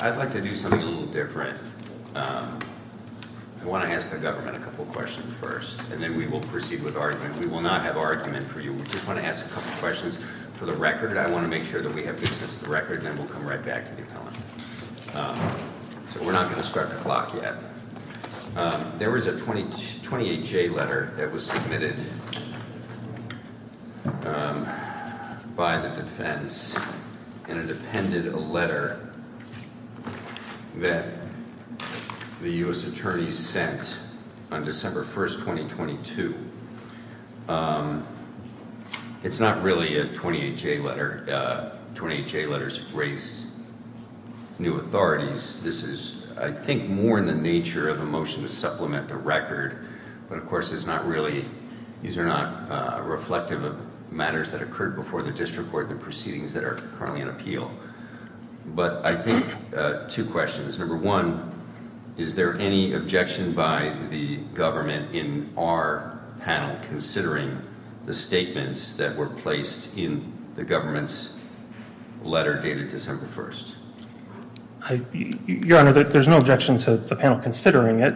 I'd like to do something a little different, I want to ask the government a couple of questions first and then we will proceed with argument. We will not have argument for you. We just want to ask a couple of questions for the record. I want to make sure that we have good sense of the record and then we'll come right back to the appellant. So we're not going to start the clock yet. There was a 28 J letter that was submitted by the defense and it appended a letter that the U.S. Attorney sent on December 1st, 2022. It's not really a 28 J letter. 28 J letters raise new authorities. This is I think more in the nature of a motion to supplement the record, but of course it's not really, these are not reflective of matters that occurred before the district court, the proceedings that are currently in appeal. But I think two questions. Number one, is there any objection by the government in our panel considering the statements that were placed in the government's letter dated December 1st? Your Honor, there's no objection to the panel considering it.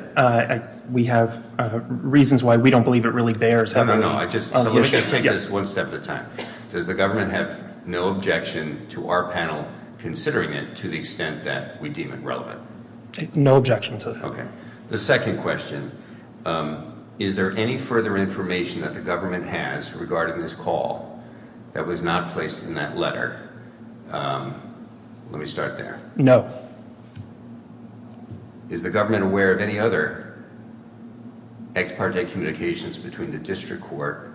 We have reasons why we don't believe it really bears. No, no, no. So let's just take this one step at a time. Does the government have no objection to our panel considering it to the extent that we deem it relevant? No objection to that. The second question, is there any further information that the government has regarding this call that was not placed in that letter? Let me start there. No. Is the government aware of any other ex parte communications between the district court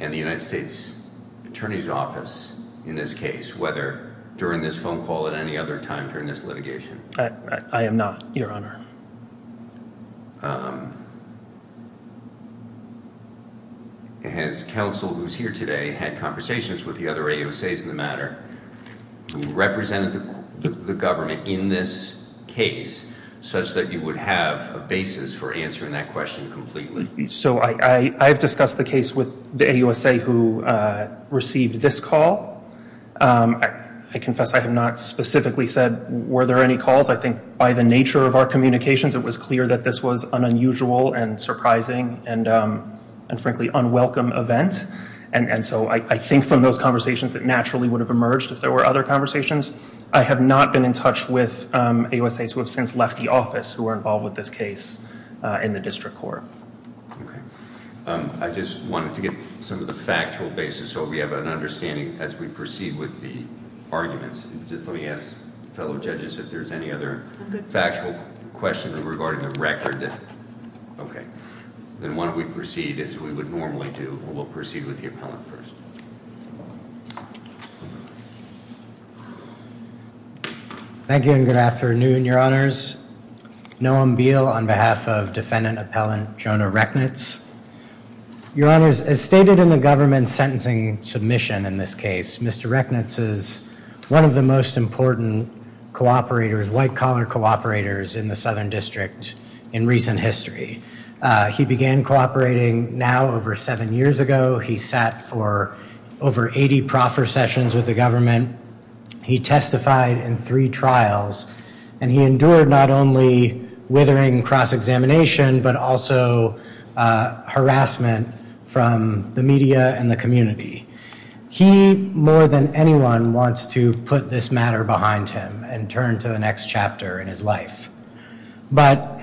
and the United States Attorney's Office in this case, whether during this phone call at any other time during this litigation? I am not, Your Honor. Has counsel who's here today had conversations with the other AUSAs in the matter who represented the government in this case such that you would have a basis for answering that question completely? So I've discussed the case with the AUSA who received this call. I confess I have not specifically said were there any calls. I think by the nature of our communications, it was clear that this was an unusual and surprising and frankly unwelcome event. And so I think from those conversations, it naturally would have emerged if there were other conversations. I have not been in touch with AUSAs who have since left the office who are involved with this case in the district court. Okay. I just wanted to get some of the factual basis so we have an understanding as we proceed with the arguments. Just let me ask fellow judges if there's any other factual questions regarding the record. Okay. Then why don't we proceed as we would normally do. We'll proceed with the appellant first. Thank you and good afternoon, Your Honors. Noam Beale on behalf of defendant appellant Jonah Recknitz. Your Honors, as stated in the government sentencing submission in this case, Mr. Recknitz is one of the most important cooperators, white collar cooperators in the Southern District in recent history. He began cooperating now over seven years ago. He sat for over 80 proffer sessions with the government. He testified in three trials and he endured not only withering cross examination, but also harassment from the media and the community. He more than anyone wants to put this matter behind him and turn to the next chapter in his life. But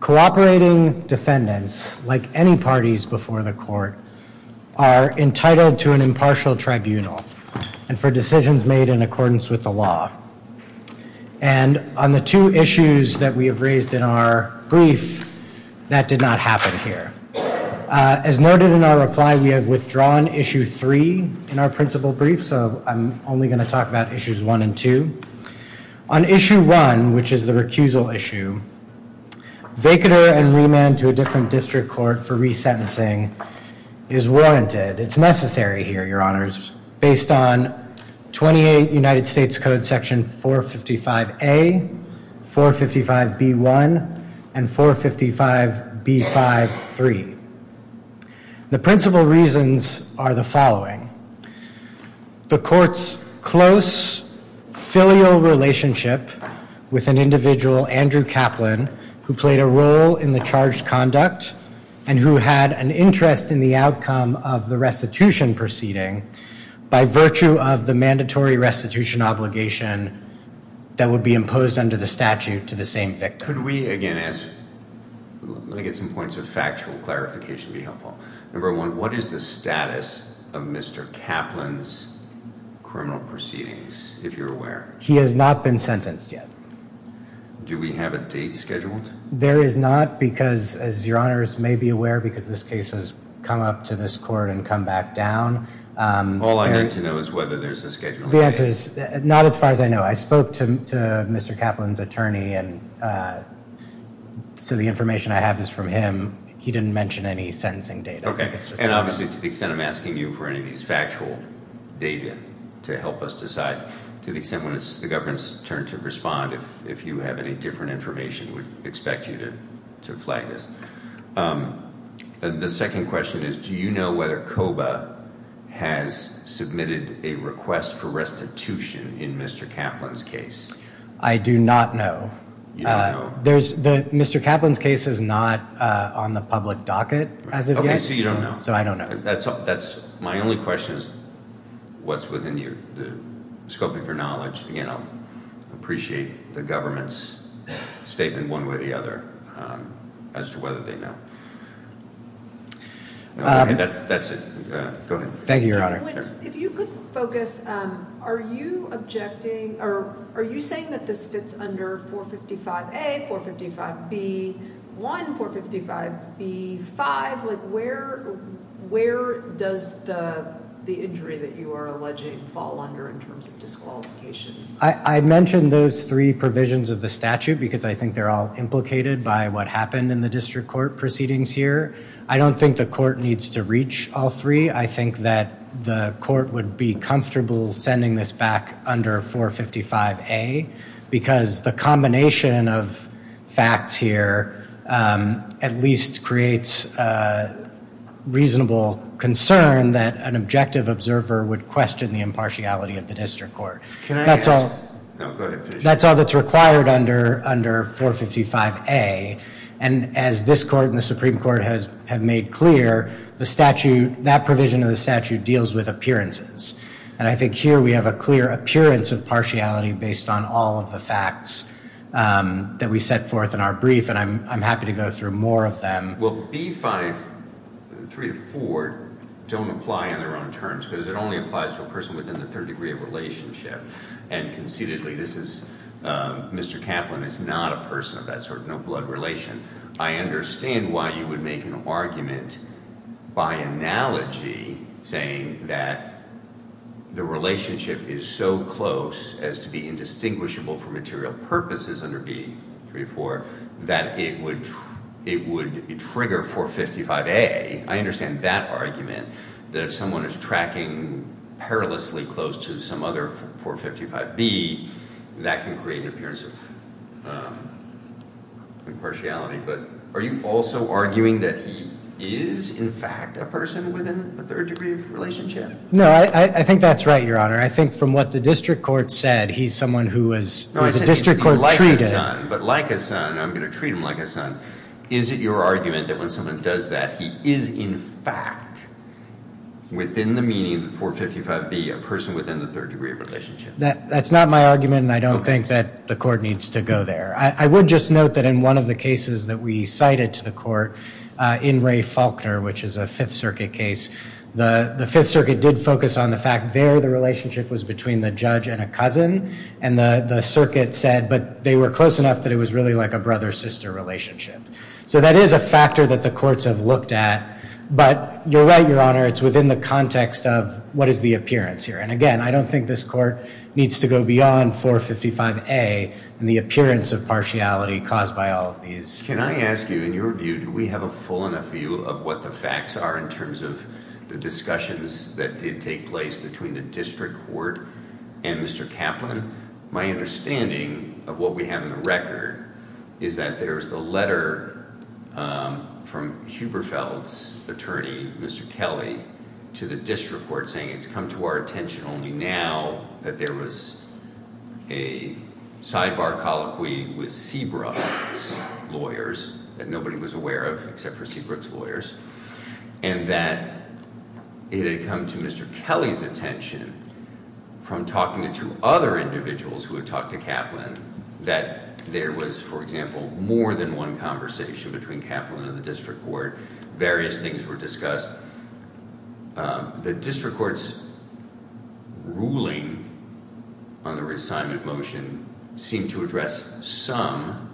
cooperating defendants, like any parties before the court, are entitled to an impartial tribunal and for decisions made in accordance with the law. And on the two issues that we have raised in our brief, that did not happen here. As noted in our reply, we have withdrawn issue three in our principal brief, so I'm only going to talk about issues one and two. On issue one, which is the recusal issue, vacater and remand to a different district court for resentencing is warranted. It's necessary here, Your Honors, based on 28 United States Code Section 455A, 455B1, and 455B53. The principal reasons are the following. The court's close filial relationship with an individual, Andrew Kaplan, who played a role in the charged conduct and who had an interest in the outcome of the restitution proceeding by virtue of the mandatory restitution obligation that would be imposed under the statute to the same victim. Could we again ask, let me get some points of factual clarification to be helpful. Number one, what is the status of Mr. Kaplan's criminal proceedings, if you're aware? He has not been sentenced yet. Do we have a date scheduled? There is not because, as Your Honors may be aware, because this case has come up to this court and come back down. All I need to know is whether there's a schedule. The answer is not as far as I know. I spoke to Mr. Kaplan's attorney, and so the information I have is from him. He didn't mention any sentencing date. Okay, and obviously to the extent I'm asking you for any of these factual data to help us decide, to the extent when it's the government's turn to respond, if you have any different information, we'd expect you to flag this. The second question is, do you know whether COBA has submitted a request for restitution in Mr. Kaplan's case? I do not know. You don't know? Mr. Kaplan's case is not on the public docket as of yet. Okay, so you don't know. So I don't know. My only question is what's within you. Scoping for knowledge, you know, appreciate the government's statement one way or the other as to whether they know. Okay, that's it. Go ahead. Thank you, Your Honor. If you could focus, are you objecting or are you saying that this fits under 455A, 455B1, 455B5? Where does the injury that you are alleging fall under in terms of disqualification? I mentioned those three provisions of the statute because I think they're all implicated by what happened in the district court proceedings here. I don't think the court needs to reach all three. I think that the court would be comfortable sending this back under 455A because the combination of facts here at least creates reasonable concern that an objective observer would question the impartiality of the district court. That's all that's required under 455A. And as this court and the Supreme Court have made clear, the statute, that provision of the statute deals with appearances. And I think here we have a clear appearance of partiality based on all of the facts that we set forth in our brief, and I'm happy to go through more of them. Well, B5, three of four, don't apply in their own terms because it only applies to a person within the third degree of relationship. And conceitedly, this is, Mr. Kaplan is not a person of that sort, no blood relation. I understand why you would make an argument by analogy saying that the relationship is so close as to be indistinguishable for material purposes under B, three of four, that it would trigger 455A. I understand that argument, that if someone is tracking perilously close to some other 455B, that can create an appearance of impartiality. But are you also arguing that he is, in fact, a person within a third degree of relationship? No, I think that's right, Your Honor. I think from what the district court said, he's someone who was, or the district court treated- He is, in fact, within the meaning of the 455B, a person within the third degree of relationship. That's not my argument, and I don't think that the court needs to go there. I would just note that in one of the cases that we cited to the court, in Ray Faulkner, which is a Fifth Circuit case, the Fifth Circuit did focus on the fact there the relationship was between the judge and a cousin, and the circuit said, but they were close enough that it was really like a brother-sister relationship. So that is a factor that the courts have looked at, but you're right, Your Honor, it's within the context of what is the appearance here. And again, I don't think this court needs to go beyond 455A and the appearance of partiality caused by all of these. Can I ask you, in your view, do we have a full enough view of what the facts are in terms of the discussions that did take place between the district court and Mr. Kaplan? My understanding of what we have in the record is that there's the letter from Huberfeld's attorney, Mr. Kelly, to the district court saying it's come to our attention only now that there was a sidebar colloquy with Seabrook's lawyers that nobody was aware of except for Seabrook's lawyers, and that it had come to Mr. Kelly's attention from talking to two other individuals who had talked to Kaplan that there was, for example, more than one conversation between Kaplan and the district court. Various things were discussed. The district court's ruling on the reassignment motion seemed to address some,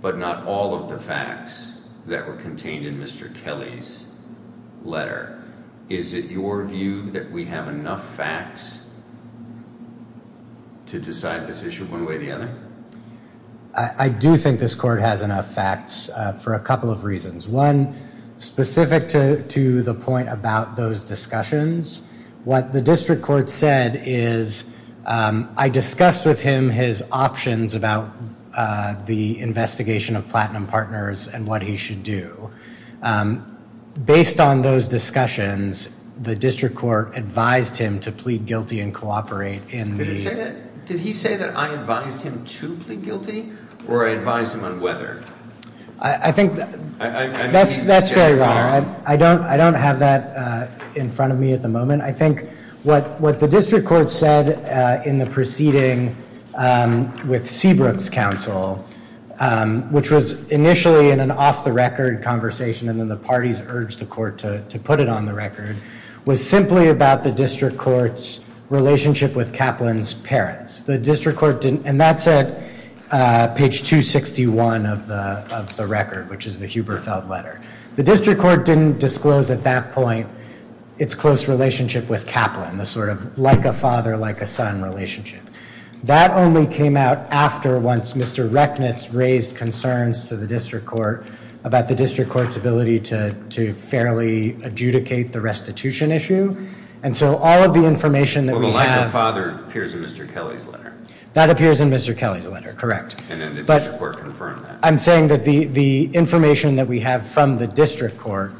but not all of the facts that were contained in Mr. Kelly's letter. Is it your view that we have enough facts to decide this issue one way or the other? I do think this court has enough facts for a couple of reasons. One, specific to the point about those discussions, what the district court said is I discussed with him his options about the investigation of Platinum Partners and what he should do. Based on those discussions, the district court advised him to plead guilty and cooperate in the- Did he say that I advised him to plead guilty or I advised him on whether? I think that's very wrong. I don't have that in front of me at the moment. I think what the district court said in the proceeding with Seabrook's counsel, which was initially in an off-the-record conversation and then the parties urged the court to put it on the record, was simply about the district court's relationship with Kaplan's parents. And that's at page 261 of the record, which is the Huberfeld letter. The district court didn't disclose at that point its close relationship with Kaplan, the sort of like-a-father, like-a-son relationship. That only came out after once Mr. Rechnitz raised concerns to the district court about the district court's ability to fairly adjudicate the restitution issue. And so all of the information that we have- That appears in Mr. Kelly's letter, correct. And then the district court confirmed that. I'm saying that the information that we have from the district court,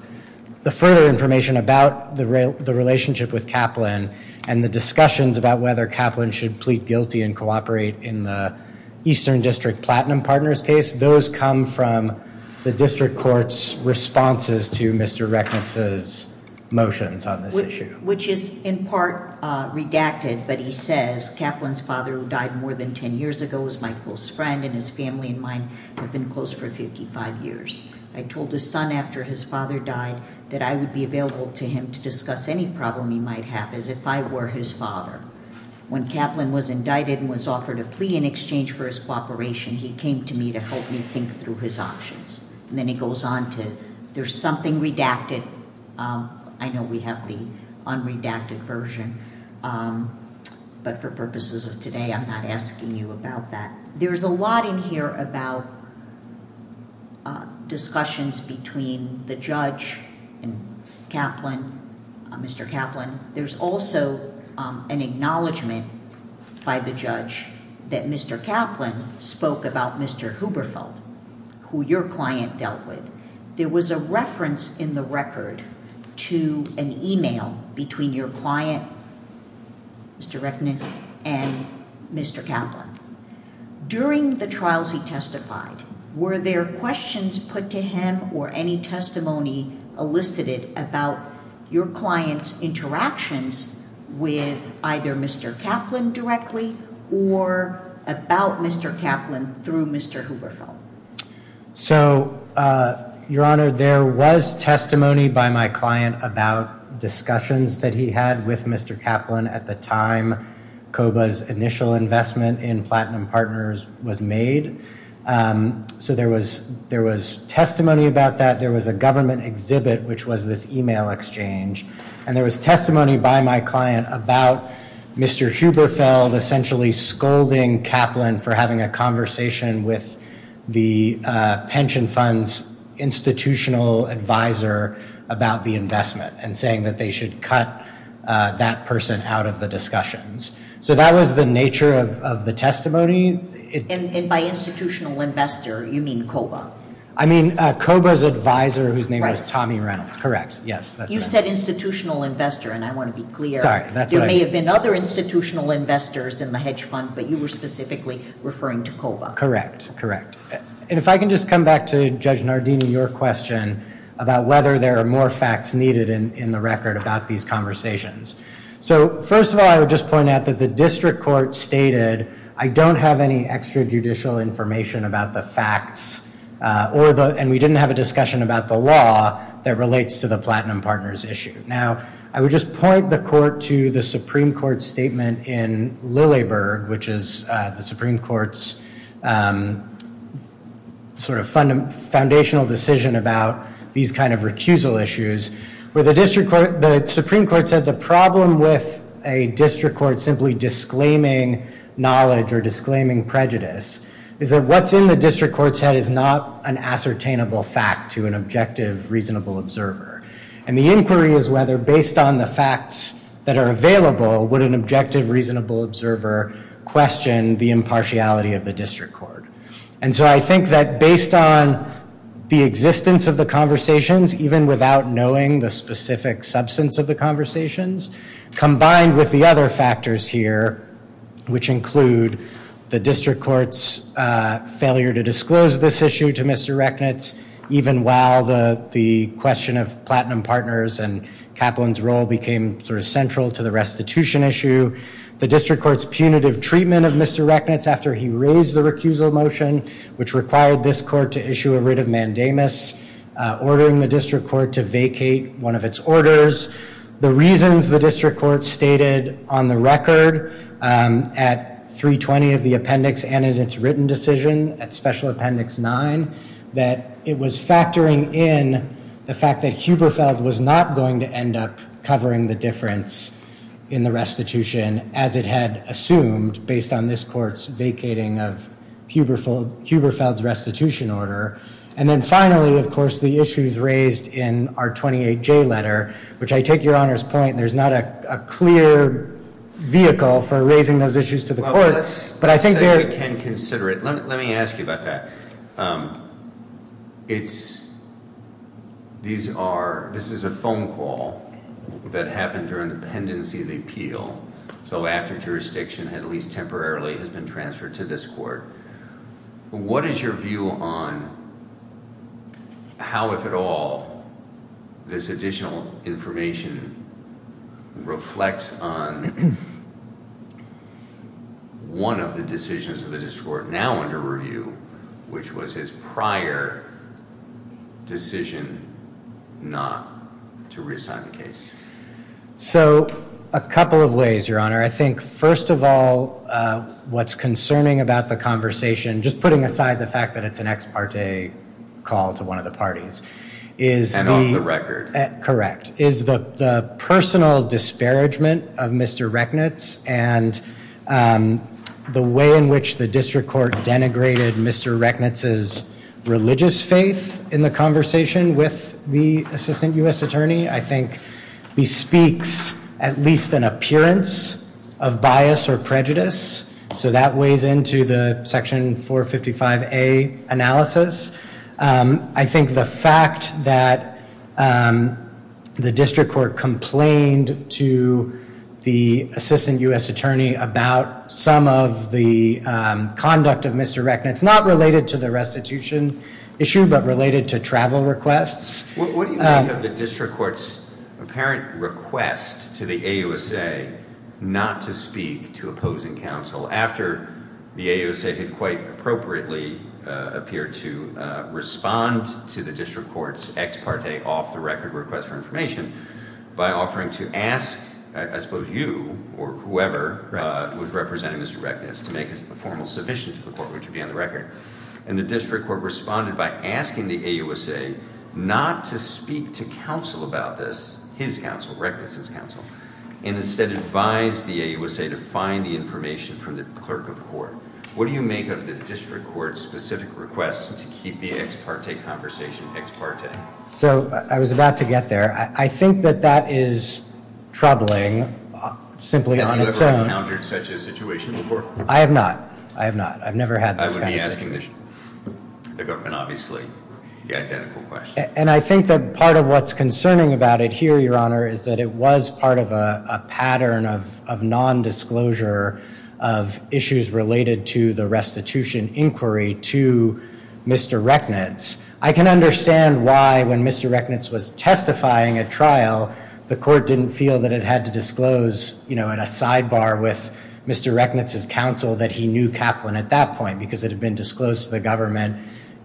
the further information about the relationship with Kaplan and the discussions about whether Kaplan should plead guilty and cooperate in the Eastern District Platinum Partners case, those come from the district court's responses to Mr. Rechnitz's motions on this issue. Which is in part redacted, but he says, Kaplan's father, who died more than ten years ago, was my close friend and his family and mine have been close for 55 years. I told his son after his father died that I would be available to him to discuss any problem he might have as if I were his father. When Kaplan was indicted and was offered a plea in exchange for his cooperation, he came to me to help me think through his options. And then he goes on to, there's something redacted. I know we have the unredacted version, but for purposes of today, I'm not asking you about that. There's a lot in here about discussions between the judge and Kaplan, Mr. Kaplan. There's also an acknowledgment by the judge that Mr. Kaplan spoke about Mr. Huberfeld, who your client dealt with. There was a reference in the record to an email between your client, Mr. Rechnitz, and Mr. Kaplan. During the trials he testified, were there questions put to him or any testimony elicited about your client's interactions with either Mr. Kaplan directly or about Mr. Kaplan through Mr. Huberfeld? So, Your Honor, there was testimony by my client about discussions that he had with Mr. Kaplan at the time COBA's initial investment in Platinum Partners was made. So there was there was testimony about that. There was a government exhibit, which was this email exchange. And there was testimony by my client about Mr. Huberfeld essentially scolding Kaplan for having a conversation with the pension fund's institutional advisor about the investment and saying that they should cut that person out of the discussions. So that was the nature of the testimony. And by institutional investor, you mean COBA? I mean COBA's advisor, whose name was Tommy Reynolds. Correct. Yes. You said institutional investor, and I want to be clear. There may have been other institutional investors in the hedge fund, but you were specifically referring to COBA. Correct. Correct. And if I can just come back to Judge Nardini, your question about whether there are more facts needed in the record about these conversations. So, first of all, I would just point out that the district court stated, I don't have any extra judicial information about the facts, and we didn't have a discussion about the law that relates to the Platinum Partners issue. Now, I would just point the court to the Supreme Court statement in Lilleberg, which is the Supreme Court's sort of foundational decision about these kind of recusal issues. The Supreme Court said the problem with a district court simply disclaiming knowledge or disclaiming prejudice is that what's in the district court's head is not an ascertainable fact to an objective, reasonable observer. And the inquiry is whether, based on the facts that are available, would an objective, reasonable observer question the impartiality of the district court. And so I think that based on the existence of the conversations, even without knowing the specific substance of the conversations, combined with the other factors here, which include the district court's failure to disclose this issue to Mr. Rechnitz, even while the question of Platinum Partners and Kaplan's role became sort of central to the restitution issue, the district court's punitive treatment of Mr. Rechnitz after he raised the recusal motion, which required this court to issue a writ of mandamus, ordering the district court to vacate one of its orders. The reasons the district court stated on the record at 3.20 of the appendix and in its written decision at Special Appendix 9, that it was factoring in the fact that Huberfeld was not going to end up covering the difference in the restitution as it had assumed based on this court's vacating of Huberfeld's restitution order. And then finally, of course, the issues raised in our 28J letter, which I take Your Honor's point, there's not a clear vehicle for raising those issues to the courts. But I think there- Let's say we can consider it. Let me ask you about that. It's, these are, this is a phone call that happened during the pendency of the appeal. So after jurisdiction, at least temporarily, has been transferred to this court. What is your view on how, if at all, this additional information reflects on one of the decisions of the district court now under review, which was his prior decision not to reassign the case? So, a couple of ways, Your Honor. I think, first of all, what's concerning about the conversation, just putting aside the fact that it's an ex parte call to one of the parties, is the- And on the record. Correct. Is the personal disparagement of Mr. Rechnitz and the way in which the district court denigrated Mr. Rechnitz's religious faith in the conversation with the assistant U.S. attorney, I think bespeaks at least an appearance of bias or prejudice. So that weighs into the section 455A analysis. I think the fact that the district court complained to the assistant U.S. attorney about some of the conduct of Mr. Rechnitz, not related to the restitution issue, but related to travel requests- What do you think of the district court's apparent request to the AUSA not to speak to opposing counsel after the AUSA had quite appropriately appeared to respond to the district court's ex parte off-the-record request for information by offering to ask, I suppose, you or whoever was representing Mr. Rechnitz to make a formal submission to the court, which would be on the record. And the district court responded by asking the AUSA not to speak to counsel about this, his counsel, Rechnitz's counsel, and instead advised the AUSA to find the information from the clerk of court. What do you make of the district court's specific request to keep the ex parte conversation ex parte? So I was about to get there. I think that that is troubling, simply on its own. Have you ever encountered such a situation before? I have not. I have not. I've never had this kind of situation. I would be asking the government, obviously, the identical question. And I think that part of what's concerning about it here, Your Honor, is that it was part of a pattern of nondisclosure of issues related to the restitution inquiry to Mr. Rechnitz. I can understand why, when Mr. Rechnitz was testifying at trial, the court didn't feel that it had to disclose, you know, at a sidebar with Mr. Rechnitz's counsel that he knew Kaplan at that point because it had been disclosed to the government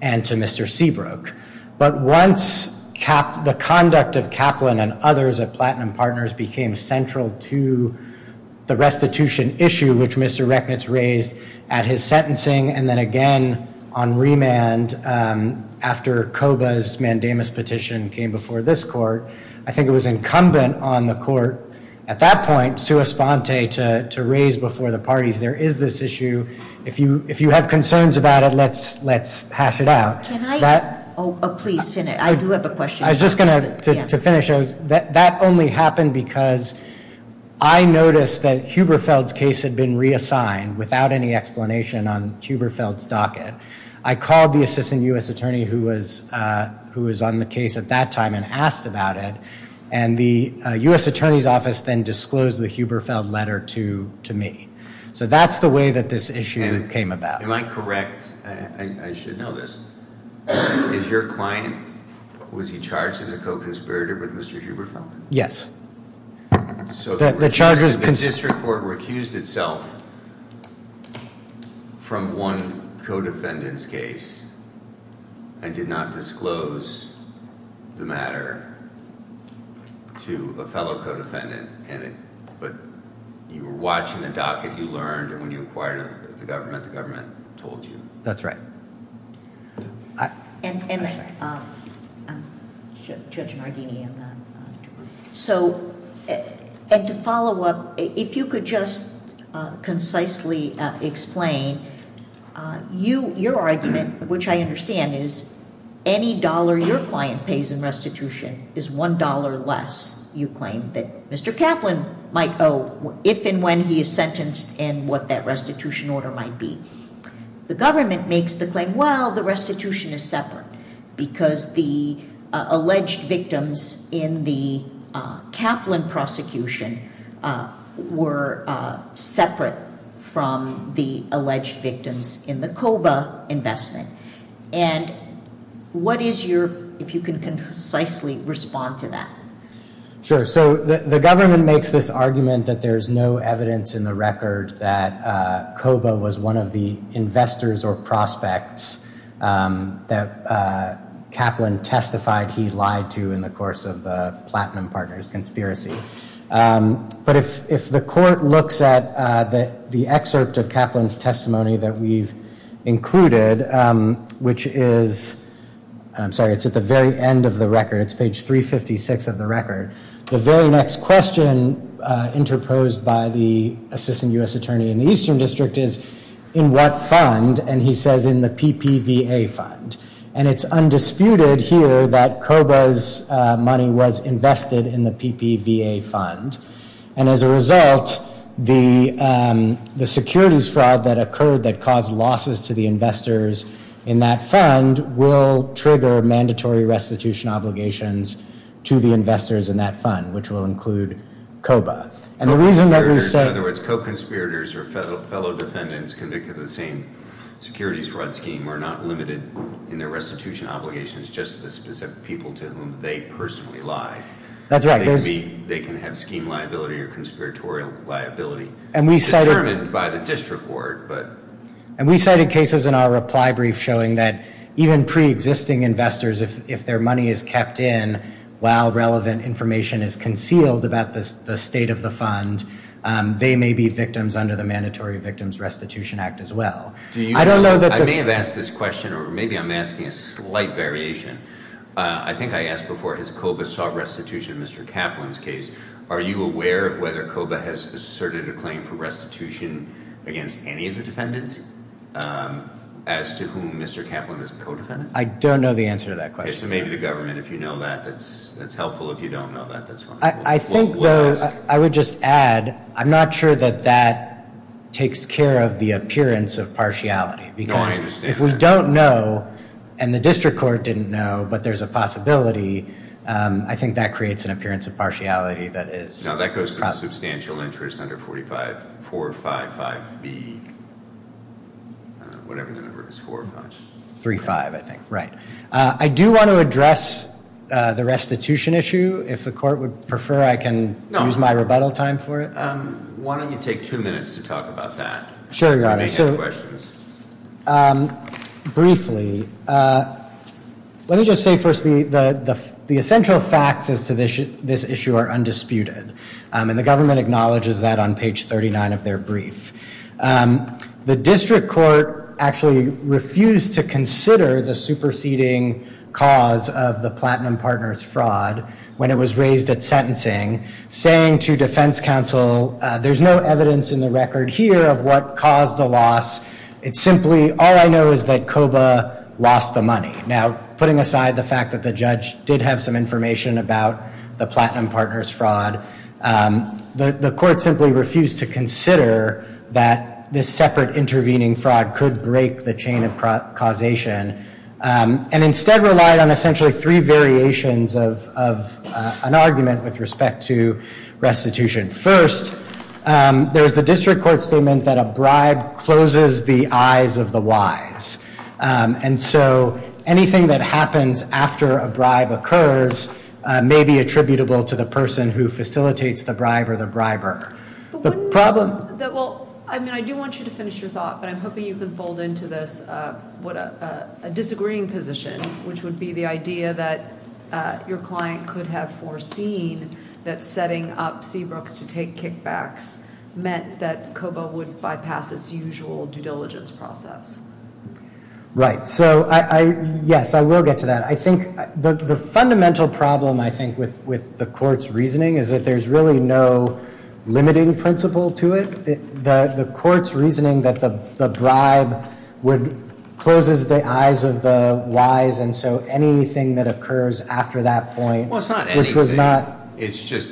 and to Mr. Seabrook. But once the conduct of Kaplan and others at Platinum Partners became central to the restitution issue, which Mr. Rechnitz raised at his sentencing and then again on remand after Koba's mandamus petition came before this court, I think it was incumbent on the court at that point, sua sponte, to raise before the parties there is this issue. If you have concerns about it, let's hash it out. Can I? Oh, please finish. I do have a question. I was just going to finish. That only happened because I noticed that Huberfeld's case had been reassigned I called the assistant U.S. attorney who was on the case at that time and asked about it, and the U.S. attorney's office then disclosed the Huberfeld letter to me. So that's the way that this issue came about. Am I correct? I should know this. Is your client, was he charged as a co-conspirator with Mr. Huberfeld? Yes. So the district court recused itself from one co-defendant's case and did not disclose the matter to a fellow co-defendant, but you were watching the docket, you learned, and when you inquired of the government, the government told you. That's right. I'm sorry. Judge Nardini. So, and to follow up, if you could just concisely explain, your argument, which I understand, is any dollar your client pays in restitution is $1 less, you claim, that Mr. Kaplan might owe if and when he is sentenced and what that restitution order might be. The government makes the claim, well, the restitution is separate because the alleged victims in the Kaplan prosecution were separate from the alleged victims in the COBA investment. And what is your, if you can concisely respond to that. Sure. So the government makes this argument that there is no evidence in the record that COBA was one of the investors or prospects that Kaplan testified he lied to in the course of the Platinum Partners conspiracy. But if the court looks at the excerpt of Kaplan's testimony that we've included, which is, I'm sorry, it's at the very end of the record, it's page 356 of the record. The very next question interposed by the assistant U.S. attorney in the Eastern District is, in what fund, and he says in the PPVA fund. And it's undisputed here that COBA's money was invested in the PPVA fund. And as a result, the securities fraud that occurred that caused losses to the investors in that fund will trigger mandatory restitution obligations to the investors in that fund, which will include COBA. And the reason that we say. In other words, co-conspirators or fellow defendants convicted of the same securities fraud scheme are not limited in their restitution obligations just to the specific people to whom they personally lied. That's right. They can have scheme liability or conspiratorial liability determined by the district board. And we cited cases in our reply brief showing that even pre-existing investors, if their money is kept in while relevant information is concealed about the state of the fund, they may be victims under the Mandatory Victims Restitution Act as well. I may have asked this question, or maybe I'm asking a slight variation. I think I asked before, has COBA sought restitution in Mr. Kaplan's case? Are you aware of whether COBA has asserted a claim for restitution against any of the defendants as to whom Mr. Kaplan is a co-defendant? I don't know the answer to that question. Okay, so maybe the government, if you know that, that's helpful. If you don't know that, that's fine. I think, though, I would just add, I'm not sure that that takes care of the appearance of partiality. No, I understand. If we don't know, and the district court didn't know, but there's a possibility, I think that creates an appearance of partiality that is- No, that goes to substantial interest under 455B, whatever the number is, 45. 35, I think, right. I do want to address the restitution issue. If the court would prefer I can use my rebuttal time for it. Why don't you take two minutes to talk about that? Sure, Your Honor. Briefly, let me just say first the essential facts as to this issue are undisputed, and the government acknowledges that on page 39 of their brief. The district court actually refused to consider the superseding cause of the Platinum Partners fraud when it was raised at sentencing, saying to defense counsel, there's no evidence in the record here of what caused the loss. It's simply, all I know is that COBA lost the money. Now, putting aside the fact that the judge did have some information about the Platinum Partners fraud, the court simply refused to consider that this separate intervening fraud could break the chain of causation, and instead relied on essentially three variations of an argument with respect to restitution. First, there's the district court statement that a bribe closes the eyes of the wise, and so anything that happens after a bribe occurs may be attributable to the person who facilitates the bribe or the briber. I do want you to finish your thought, but I'm hoping you can fold into this a disagreeing position, which would be the idea that your client could have foreseen that setting up Seabrooks to take kickbacks meant that COBA would bypass its usual due diligence process. Right. So, yes, I will get to that. I think the fundamental problem, I think, with the court's reasoning is that there's really no limiting principle to it. The court's reasoning that the bribe closes the eyes of the wise, and so anything that occurs after that point- Well, it's not anything. Which was not- It's just,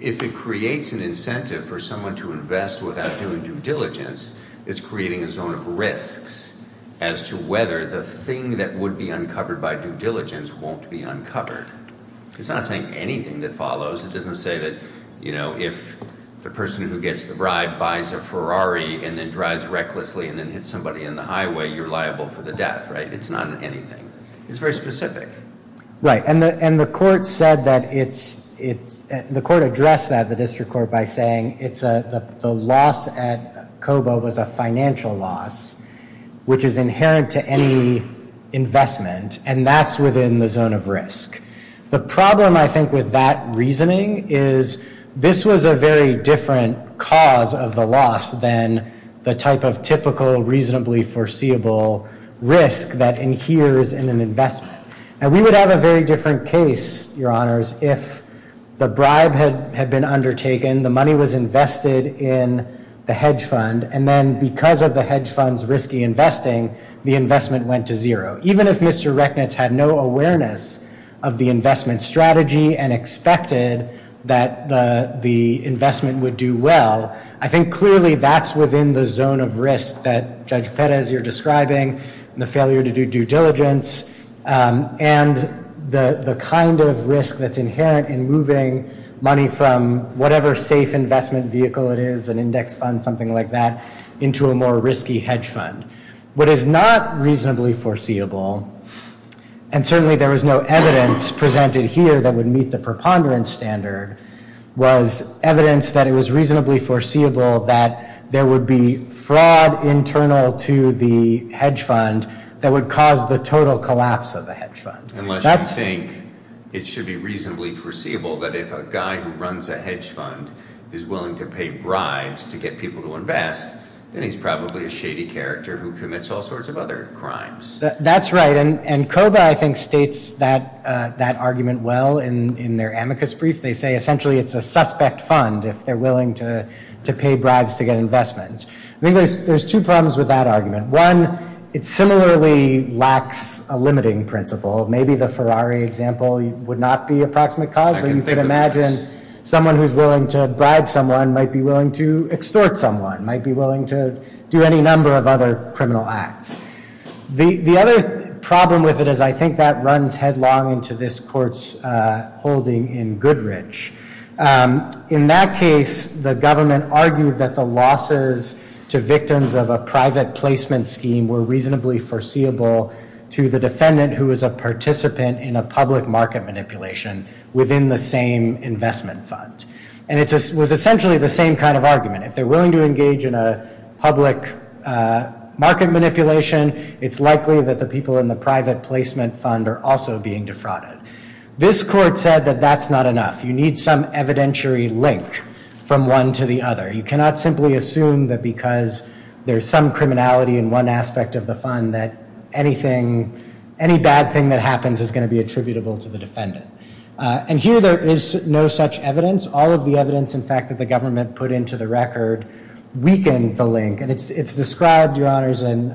if it creates an incentive for someone to invest without doing due diligence, it's creating a zone of risks as to whether the thing that would be uncovered by due diligence won't be uncovered. It's not saying anything that follows. It doesn't say that if the person who gets the bribe buys a Ferrari and then drives recklessly and then hits somebody in the highway, you're liable for the death, right? It's not anything. It's very specific. Right, and the court said that it's- the court addressed that, the district court, by saying the loss at COBA was a financial loss, which is inherent to any investment, and that's within the zone of risk. The problem, I think, with that reasoning is this was a very different cause of the loss than the type of typical, reasonably foreseeable risk that adheres in an investment. And we would have a very different case, Your Honors, if the bribe had been undertaken, the money was invested in the hedge fund, and then because of the hedge fund's risky investing, the investment went to zero. Even if Mr. Rechnitz had no awareness of the investment strategy and expected that the investment would do well, I think clearly that's within the zone of risk that Judge Perez, you're describing, the failure to do due diligence, and the kind of risk that's inherent in moving money from whatever safe investment vehicle it is, an index fund, something like that, into a more risky hedge fund. What is not reasonably foreseeable, and certainly there is no evidence presented here that would meet the preponderance standard, was evidence that it was reasonably foreseeable that there would be fraud internal to the hedge fund that would cause the total collapse of the hedge fund. Unless you think it should be reasonably foreseeable that if a guy who runs a hedge fund is willing to pay bribes to get people to invest, then he's probably a shady character who commits all sorts of other crimes. That's right. And COBA, I think, states that argument well in their amicus brief. They say essentially it's a suspect fund if they're willing to pay bribes to get investments. I think there's two problems with that argument. One, it similarly lacks a limiting principle. Maybe the Ferrari example would not be approximate cause, but you can imagine someone who's willing to bribe someone might be willing to extort someone, might be willing to do any number of other criminal acts. The other problem with it is I think that runs headlong into this court's holding in Goodrich. In that case, the government argued that the losses to victims of a private placement scheme were reasonably foreseeable to the defendant who was a participant in a public market manipulation within the same investment fund. And it was essentially the same kind of argument. If they're willing to engage in a public market manipulation, it's likely that the people in the private placement fund are also being defrauded. This court said that that's not enough. You need some evidentiary link from one to the other. You cannot simply assume that because there's some criminality in one aspect of the fund that any bad thing that happens is going to be attributable to the defendant. And here there is no such evidence. All of the evidence, in fact, that the government put into the record weakened the link. And it's described, Your Honors, in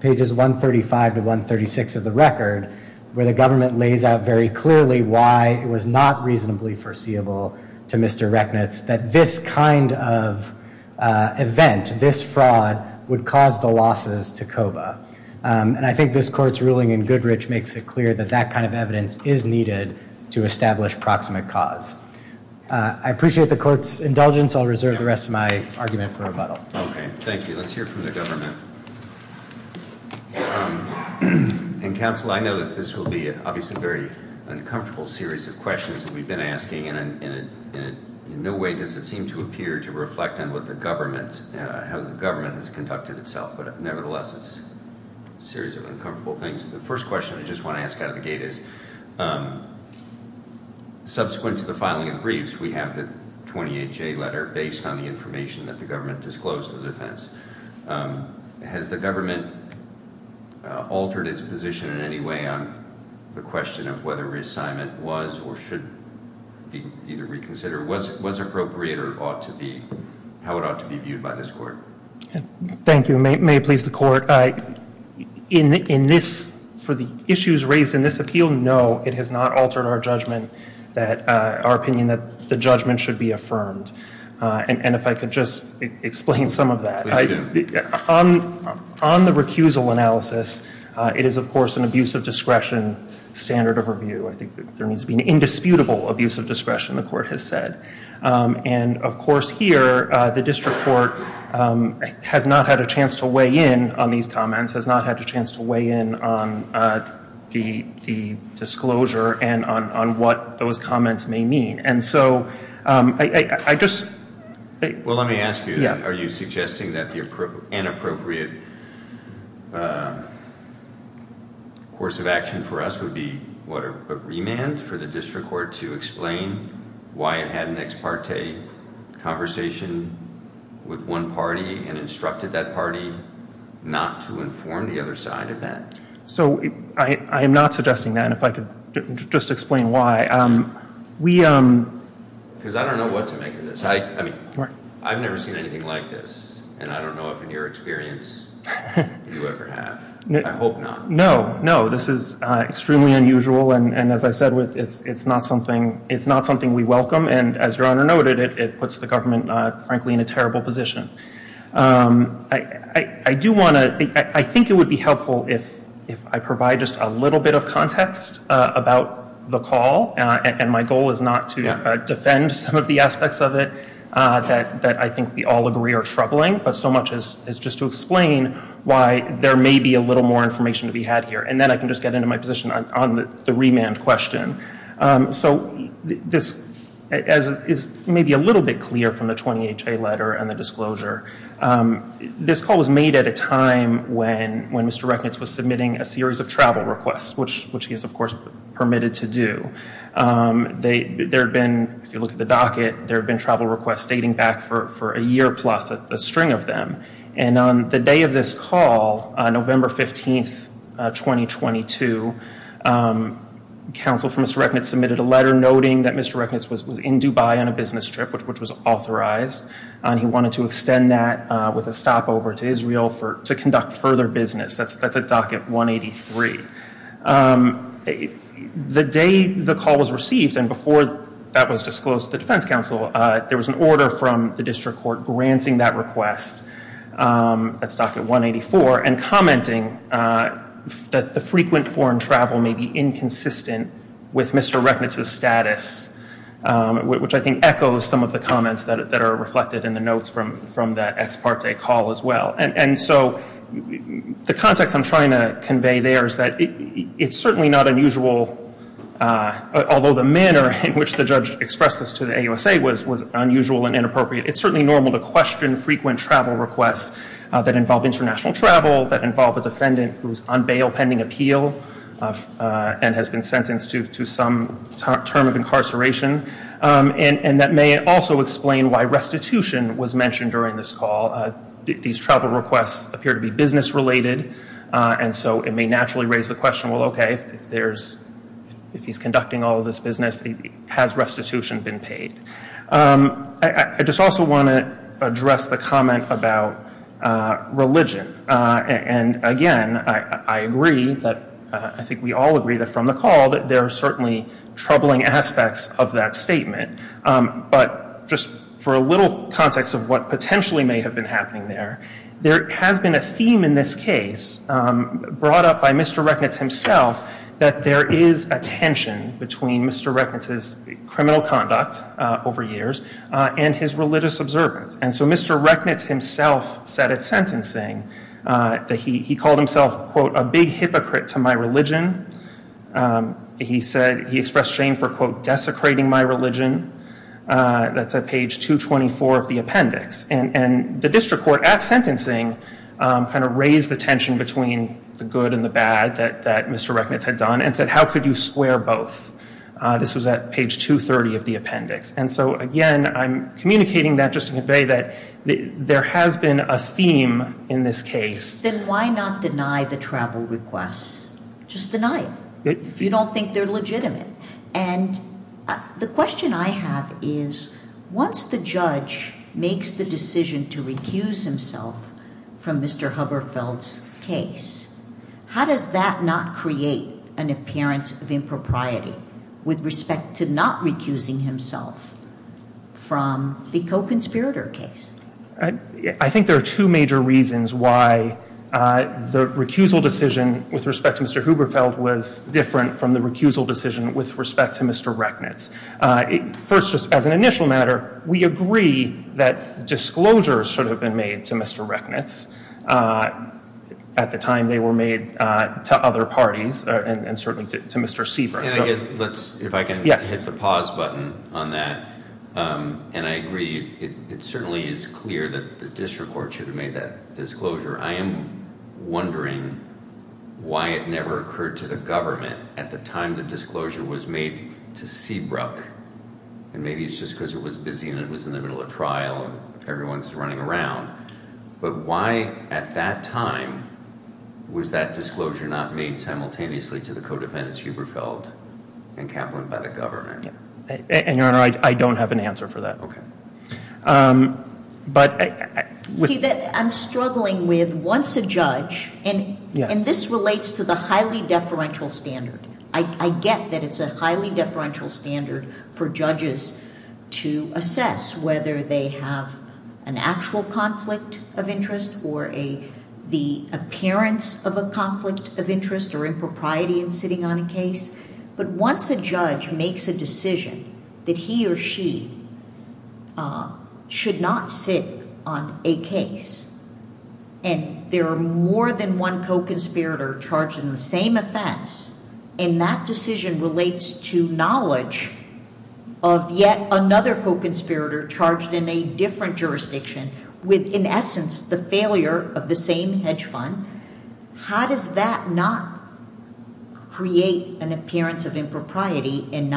pages 135 to 136 of the record where the government lays out very clearly why it was not reasonably foreseeable to Mr. Rechnitz that this kind of event, this fraud, would cause the losses to COBA. And I think this court's ruling in Goodrich makes it clear that that kind of evidence is needed to establish proximate cause. I appreciate the court's indulgence. I'll reserve the rest of my argument for rebuttal. Okay. Thank you. Let's hear from the government. And, counsel, I know that this will be obviously a very uncomfortable series of questions that we've been asking. And in no way does it seem to appear to reflect on what the government – how the government has conducted itself. But, nevertheless, it's a series of uncomfortable things. The first question I just want to ask out of the gate is, subsequent to the filing of the briefs, we have the 28J letter based on the information that the government disclosed to the defense. Has the government altered its position in any way on the question of whether reassignment was or should be either reconsidered? Was it appropriate or it ought to be – how it ought to be viewed by this court? Thank you. May it please the court, in this – for the issues raised in this appeal, no, it has not altered our judgment that – our opinion that the judgment should be affirmed. And if I could just explain some of that. Please do. On the recusal analysis, it is, of course, an abuse of discretion standard of review. I think there needs to be an indisputable abuse of discretion, the court has said. And, of course, here, the district court has not had a chance to weigh in on these comments, has not had a chance to weigh in on the disclosure and on what those comments may mean. And so, I just – Well, let me ask you, are you suggesting that the inappropriate course of action for us would be, what, a remand for the district court to explain why it had an ex parte conversation with one party and instructed that party not to inform the other side of that? So, I am not suggesting that. And if I could just explain why. Because I don't know what to make of this. I mean, I've never seen anything like this. And I don't know if, in your experience, you ever have. I hope not. No, no. This is extremely unusual. And, as I said, it's not something we welcome. And, as Your Honor noted, it puts the government, frankly, in a terrible position. I do want to – I think it would be helpful if I provide just a little bit of context about the call. And my goal is not to defend some of the aspects of it that I think we all agree are troubling, but so much as just to explain why there may be a little more information to be had here. And then I can just get into my position on the remand question. So, this is maybe a little bit clear from the 20HA letter and the disclosure. This call was made at a time when Mr. Recknitz was submitting a series of travel requests, which he is, of course, permitted to do. There have been, if you look at the docket, there have been travel requests dating back for a year plus, a string of them. And on the day of this call, November 15, 2022, counsel for Mr. Recknitz submitted a letter noting that Mr. Recknitz was in Dubai on a business trip, which was authorized. He wanted to extend that with a stopover to Israel to conduct further business. That's a docket 183. The day the call was received, and before that was disclosed to the defense counsel, there was an order from the district court granting that request, that's docket 184, and commenting that the frequent foreign travel may be inconsistent with Mr. Recknitz's status, which I think echoes some of the comments that are reflected in the notes from that ex parte call as well. And so the context I'm trying to convey there is that it's certainly not unusual, although the manner in which the judge expressed this to the AUSA was unusual and inappropriate, it's certainly normal to question frequent travel requests that involve international travel, that involve a defendant who's on bail pending appeal and has been sentenced to some term of incarceration. And that may also explain why restitution was mentioned during this call. These travel requests appear to be business related, and so it may naturally raise the question, well, okay, if he's conducting all of this business, has restitution been paid? I just also want to address the comment about religion. And again, I agree that, I think we all agree that from the call that there are certainly troubling aspects of that statement. But just for a little context of what potentially may have been happening there, there has been a theme in this case brought up by Mr. Recknitz himself, that there is a tension between Mr. Recknitz's criminal conduct over years and his religious observance. And so Mr. Recknitz himself said at sentencing that he called himself, quote, a big hypocrite to my religion. He said he expressed shame for, quote, desecrating my religion. That's at page 224 of the appendix. And the district court at sentencing kind of raised the tension between the good and the bad that Mr. Recknitz had done and said, how could you square both? This was at page 230 of the appendix. And so again, I'm communicating that just to convey that there has been a theme in this case. Then why not deny the travel requests? Just deny it. If you don't think they're legitimate. And the question I have is, once the judge makes the decision to recuse himself from Mr. Huberfeld's case, how does that not create an appearance of impropriety with respect to not recusing himself from the co-conspirator case? I think there are two major reasons why the recusal decision with respect to Mr. Huberfeld was different from the recusal decision with respect to Mr. Recknitz. First, just as an initial matter, we agree that disclosures should have been made to Mr. Recknitz at the time they were made to other parties and certainly to Mr. Seabrook. If I can hit the pause button on that. And I agree, it certainly is clear that the district court should have made that disclosure. I am wondering why it never occurred to the government at the time the disclosure was made to Seabrook. And maybe it's just because it was busy and it was in the middle of trial and everyone's running around. But why, at that time, was that disclosure not made simultaneously to the co-defendants, Huberfeld and Kaplan, by the government? And, Your Honor, I don't have an answer for that. Okay. See, I'm struggling with, once a judge, and this relates to the highly deferential standard. I get that it's a highly deferential standard for judges to assess whether they have an actual conflict of interest or the appearance of a conflict of interest or impropriety in sitting on a case. But once a judge makes a decision that he or she should not sit on a case and there are more than one co-conspirator charged in the same offense, and that decision relates to knowledge of yet another co-conspirator charged in a different jurisdiction with, in essence, the failure of the same hedge fund, how does that not create an appearance of impropriety and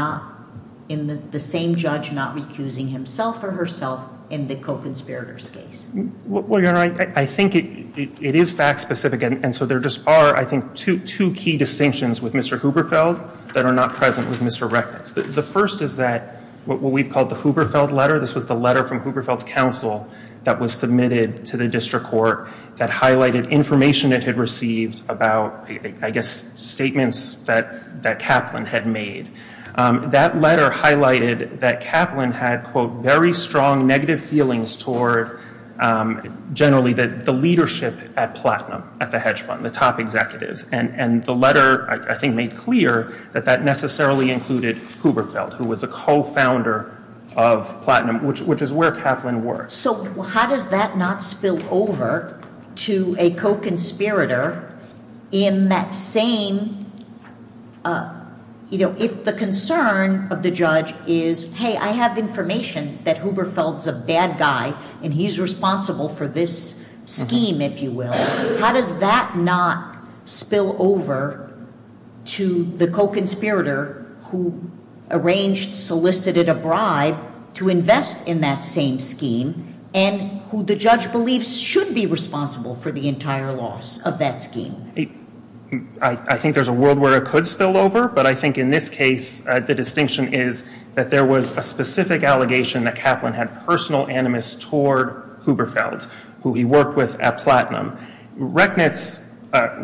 the same judge not recusing himself or herself in the co-conspirator's case? Well, Your Honor, I think it is fact-specific. And so there just are, I think, two key distinctions with Mr. Huberfeld that are not present with Mr. Reckles. The first is that what we've called the Huberfeld letter, this was the letter from Huberfeld's counsel that was submitted to the district court that highlighted information it had received about, I guess, statements that Kaplan had made. That letter highlighted that Kaplan had, quote, very strong negative feelings toward, generally, the leadership at Platinum at the hedge fund, the top executives. And the letter, I think, made clear that that necessarily included Huberfeld, who was a co-founder of Platinum, which is where Kaplan worked. So how does that not spill over to a co-conspirator in that same, you know, if the concern of the judge is, hey, I have information that Huberfeld's a bad guy and he's responsible for this scheme, if you will, how does that not spill over to the co-conspirator who arranged, solicited a bribe to invest in that same scheme and who the judge believes should be responsible for the entire loss of that scheme? I think there's a world where it could spill over. But I think in this case, the distinction is that there was a specific allegation that Kaplan had personal animus toward Huberfeld, who he worked with at Platinum. Recknitz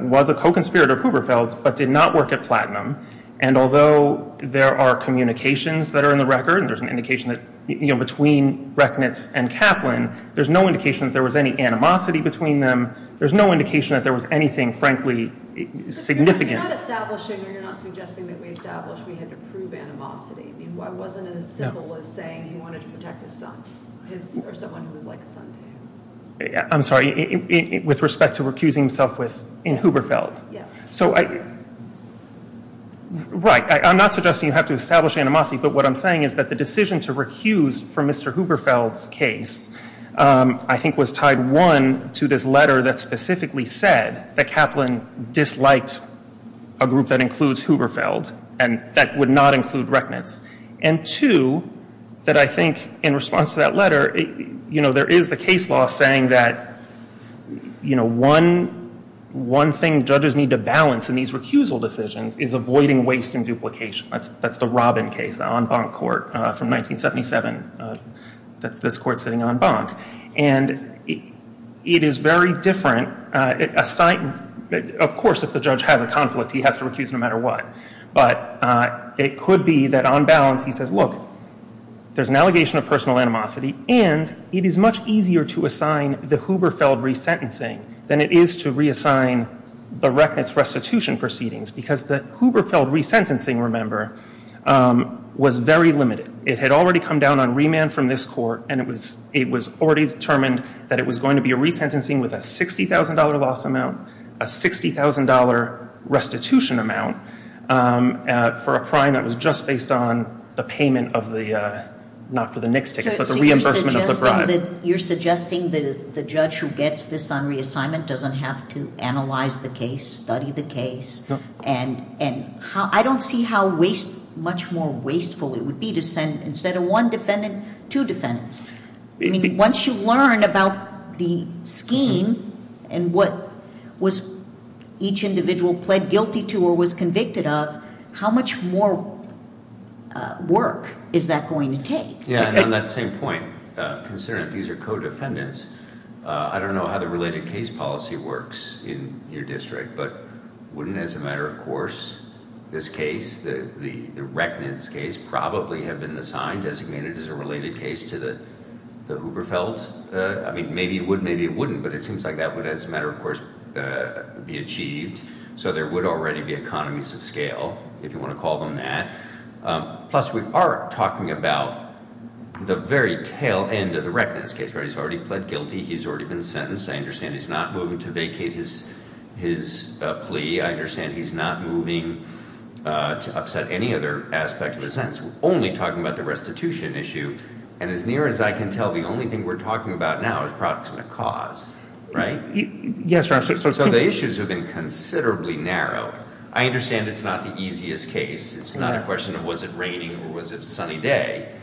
was a co-conspirator of Huberfeld's but did not work at Platinum. And although there are communications that are in the record, there's an indication that, you know, between Recknitz and Kaplan, there's no indication that there was any animosity between them. There's no indication that there was anything, frankly, significant. You're not establishing or you're not suggesting that we established we had to prove animosity. I mean, why wasn't it as simple as saying he wanted to protect his son or someone who was like a son to him? I'm sorry, with respect to recusing himself in Huberfeld? Yes. So, right, I'm not suggesting you have to establish animosity. But what I'm saying is that the decision to recuse from Mr. Huberfeld's case, I think, was tied, one, to this letter that specifically said that Kaplan disliked a group that includes Huberfeld and that would not include Recknitz. And, two, that I think in response to that letter, you know, one thing judges need to balance in these recusal decisions is avoiding waste and duplication. That's the Robin case, the en banc court from 1977. That's this court sitting en banc. And it is very different. Of course, if the judge has a conflict, he has to recuse no matter what. But it could be that on balance he says, look, there's an allegation of personal animosity, and it is much easier to assign the Huberfeld resentencing than it is to reassign the Recknitz restitution proceedings because the Huberfeld resentencing, remember, was very limited. It had already come down on remand from this court, and it was already determined that it was going to be a resentencing with a $60,000 loss amount, a $60,000 restitution amount for a crime that was just based on the payment of the, not for the NICS ticket, but the reimbursement of the bribe. So you're suggesting that the judge who gets this on reassignment doesn't have to analyze the case, study the case, and I don't see how waste, much more wasteful it would be to send, instead of one defendant, two defendants. I mean, once you learn about the scheme and what was each individual pled guilty to or was convicted of, how much more work is that going to take? Yeah, and on that same point, considering these are co-defendants, I don't know how the related case policy works in your district, but wouldn't, as a matter of course, this case, the Recknitz case, probably have been assigned, designated as a related case to the Huberfeld? I mean, maybe it would, maybe it wouldn't, but it seems like that would, as a matter of course, be achieved. So there would already be economies of scale, if you want to call them that. Plus, we are talking about the very tail end of the Recknitz case, right? He's already pled guilty. He's already been sentenced. I understand he's not moving to vacate his plea. I understand he's not moving to upset any other aspect of his sentence. We're only talking about the restitution issue, and as near as I can tell the only thing we're talking about now is proximate cause, right? Yes, Your Honor. So the issues have been considerably narrow. I understand it's not the easiest case. It's not a question of was it raining or was it a sunny day,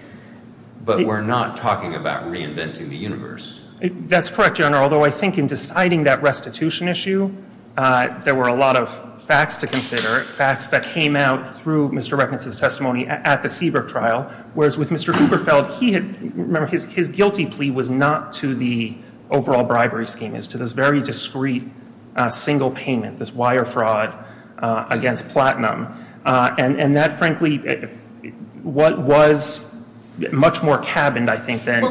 but we're not talking about reinventing the universe. That's correct, Your Honor, although I think in deciding that restitution issue, there were a lot of facts to consider, facts that came out through Mr. Recknitz's testimony at the Siebert trial, whereas with Mr. Huberfeld, he had, remember, his guilty plea was not to the overall bribery scheme. It was to this very discreet single payment, this wire fraud against platinum, and that, frankly, was much more cabined, I think, than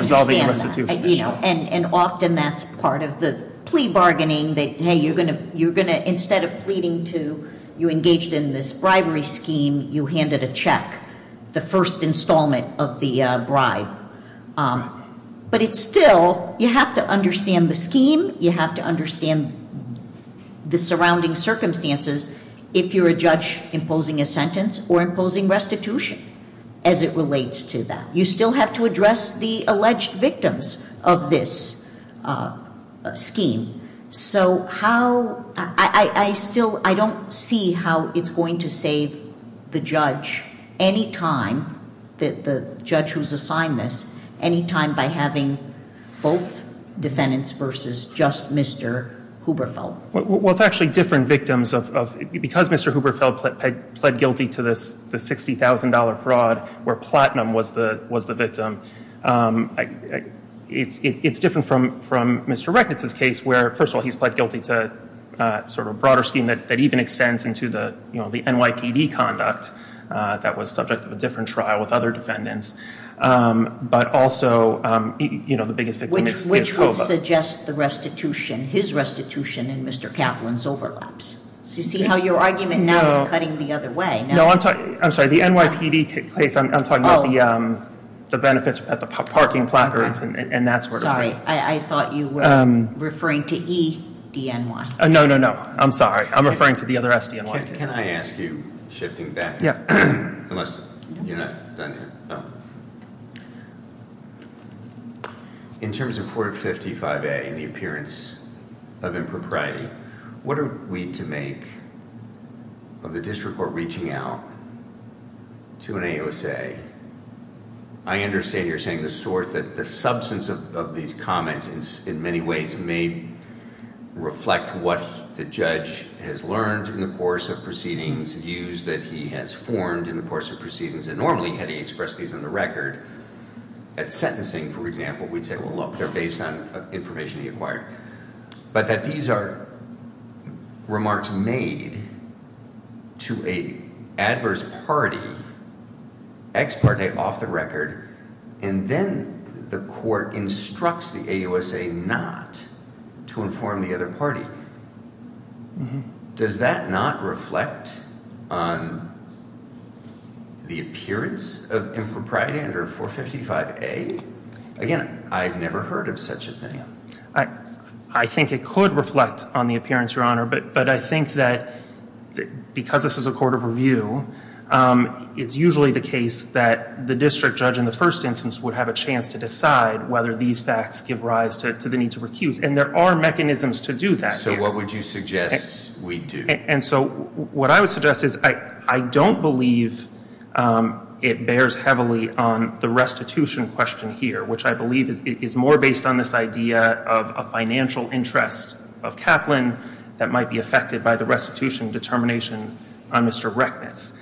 resolving the restitution issue. Well, I understand that, and often that's part of the plea bargaining that, hey, you're going to, instead of pleading to, you engaged in this bribery scheme, you handed a check, the first installment of the bribe. But it's still, you have to understand the scheme, you have to understand the surrounding circumstances if you're a judge imposing a sentence or imposing restitution as it relates to that. You still have to address the alleged victims of this scheme. So how, I still, I don't see how it's going to save the judge anytime, the judge who's assigned this, anytime by having both defendants versus just Mr. Huberfeld. Well, it's actually different victims of, because Mr. Huberfeld pled guilty to this $60,000 fraud where platinum was the victim, it's different from Mr. Rechnitz's case where, first of all, he's pled guilty to sort of a broader scheme that even extends into the NYPD conduct that was subject to a different trial with other defendants, but also the biggest victim is Huberfeld. Which would suggest the restitution, his restitution and Mr. Kaplan's overlaps. So you see how your argument now is cutting the other way. No, I'm sorry. The NYPD case, I'm talking about the benefits at the parking placards and that sort of thing. Sorry, I thought you were referring to E-D-N-Y. No, no, no. I'm sorry. I'm referring to the other S-D-N-Y case. Can I ask you, shifting back, unless you're not done yet. In terms of 455A and the appearance of impropriety, what are we to make of the district court reaching out to an A-O-S-A? I understand you're saying the substance of these comments in many ways may reflect what the judge has learned in the course of proceedings, views that he has formed in the course of proceedings, and normally had he expressed these on the record at sentencing, for example, we'd say, well, look, they're based on information he acquired. But that these are remarks made to an adverse party, ex parte, off the record, and then the court instructs the A-O-S-A not to inform the other party. Does that not reflect the appearance of impropriety under 455A? Again, I've never heard of such a thing. I think it could reflect on the appearance, Your Honor. But I think that because this is a court of review, it's usually the case that the district judge in the first instance would have a chance to decide whether these facts give rise to the need to recuse. And there are mechanisms to do that. So what would you suggest we do? And so what I would suggest is I don't believe it bears heavily on the restitution question here, which I believe is more based on this idea of a financial interest of Kaplan that might be affected by the restitution determination on Mr. Recknitz.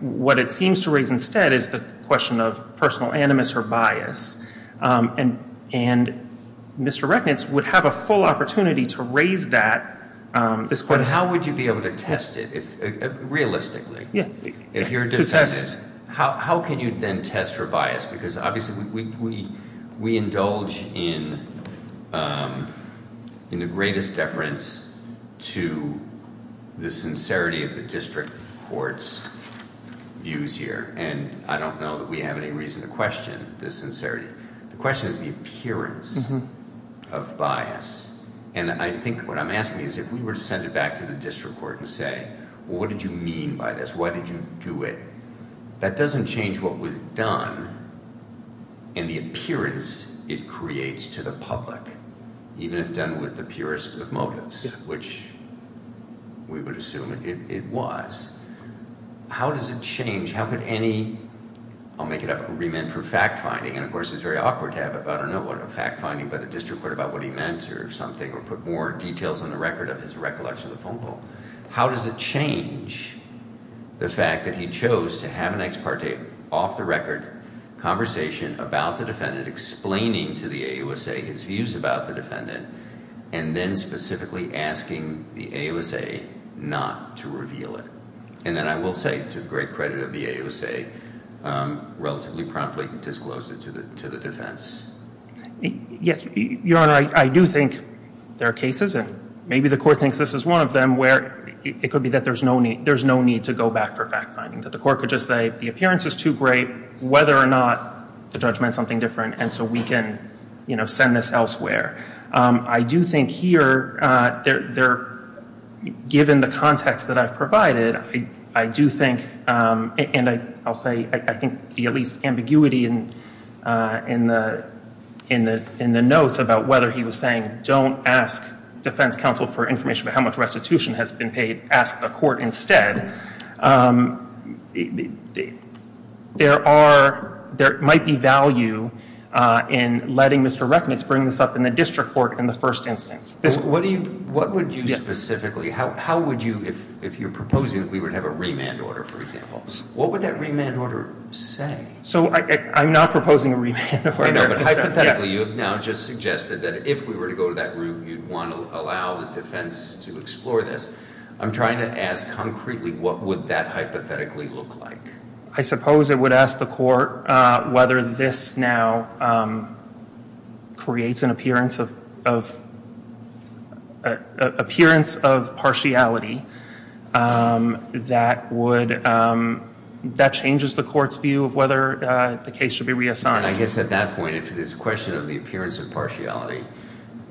What it seems to raise instead is the question of personal animus or bias. And Mr. Recknitz would have a full opportunity to raise that. But how would you be able to test it realistically? If you're defended, how can you then test for bias? Because obviously we indulge in the greatest deference to the sincerity of the district court's views here. And I don't know that we have any reason to question this sincerity. The question is the appearance of bias. And I think what I'm asking is if we were to send it back to the district court and say, well, what did you mean by this? Why did you do it? That doesn't change what was done and the appearance it creates to the public, even if done with the purest of motives, which we would assume it was. How does it change? How could any—I'll make it up—remit for fact-finding? And, of course, it's very awkward to have a fact-finding by the district court about what he meant or something or put more details on the record of his recollection of the phone call. How does it change the fact that he chose to have an ex parte, off-the-record conversation about the defendant, explaining to the AUSA his views about the defendant, and then specifically asking the AUSA not to reveal it? And then I will say, to the great credit of the AUSA, relatively promptly disclosed it to the defense. Yes, Your Honor, I do think there are cases, and maybe the court thinks this is one of them, where it could be that there's no need to go back for fact-finding, that the court could just say the appearance is too great, whether or not the judge meant something different, and so we can send this elsewhere. I do think here, given the context that I've provided, I do think, and I'll say, I think the least ambiguity in the notes about whether he was saying, don't ask defense counsel for information about how much restitution has been paid, ask the court instead. There might be value in letting Mr. Recknitz bring this up in the district court in the first instance. What would you specifically, how would you, if you're proposing that we would have a remand order, for example, what would that remand order say? So I'm not proposing a remand order. I know, but hypothetically, you have now just suggested that if we were to go to that group, you'd want to allow the defense to explore this. I'm trying to ask concretely, what would that hypothetically look like? I suppose it would ask the court whether this now creates an appearance of partiality that would, that changes the court's view of whether the case should be reassigned. I guess at that point, if it's a question of the appearance of partiality,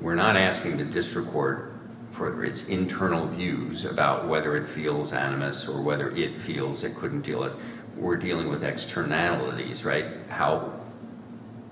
we're not asking the district court for its internal views about whether it feels animus or whether it feels it couldn't deal with, we're dealing with externalities, right, how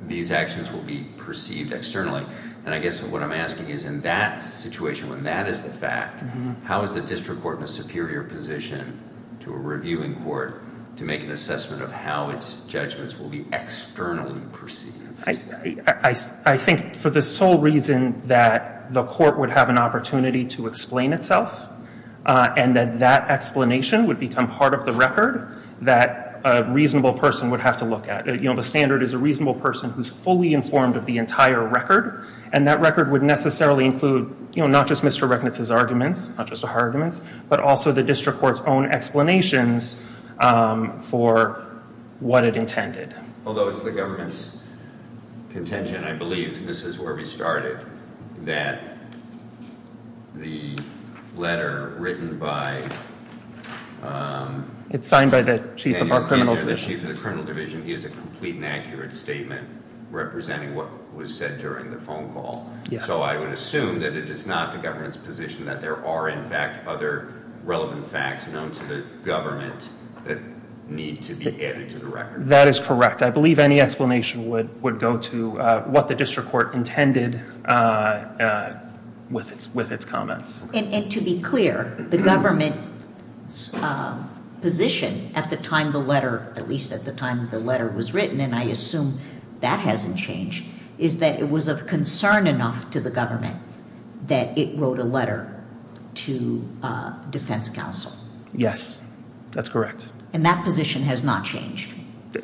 these actions will be perceived externally. And I guess what I'm asking is in that situation, when that is the fact, how is the district court in a superior position to a reviewing court to make an assessment of how its judgments will be externally perceived? I think for the sole reason that the court would have an opportunity to explain itself and that that explanation would become part of the record that a reasonable person would have to look at. You know, the standard is a reasonable person who's fully informed of the entire record, and that record would necessarily include, you know, not just Mr. Reknitz's arguments, not just her arguments, but also the district court's own explanations for what it intended. Although it's the government's contention, I believe, and this is where we started, that the letter written by the chief of the criminal division is a complete and accurate statement representing what was said during the phone call. So I would assume that it is not the government's position that there are, in fact, other relevant facts known to the government that need to be added to the record. That is correct. I believe any explanation would go to what the district court intended with its comments. And to be clear, the government's position at the time the letter, at least at the time the letter was written, and I assume that hasn't changed, is that it was of concern enough to the government that it wrote a letter to defense counsel. Yes, that's correct. And that position has not changed?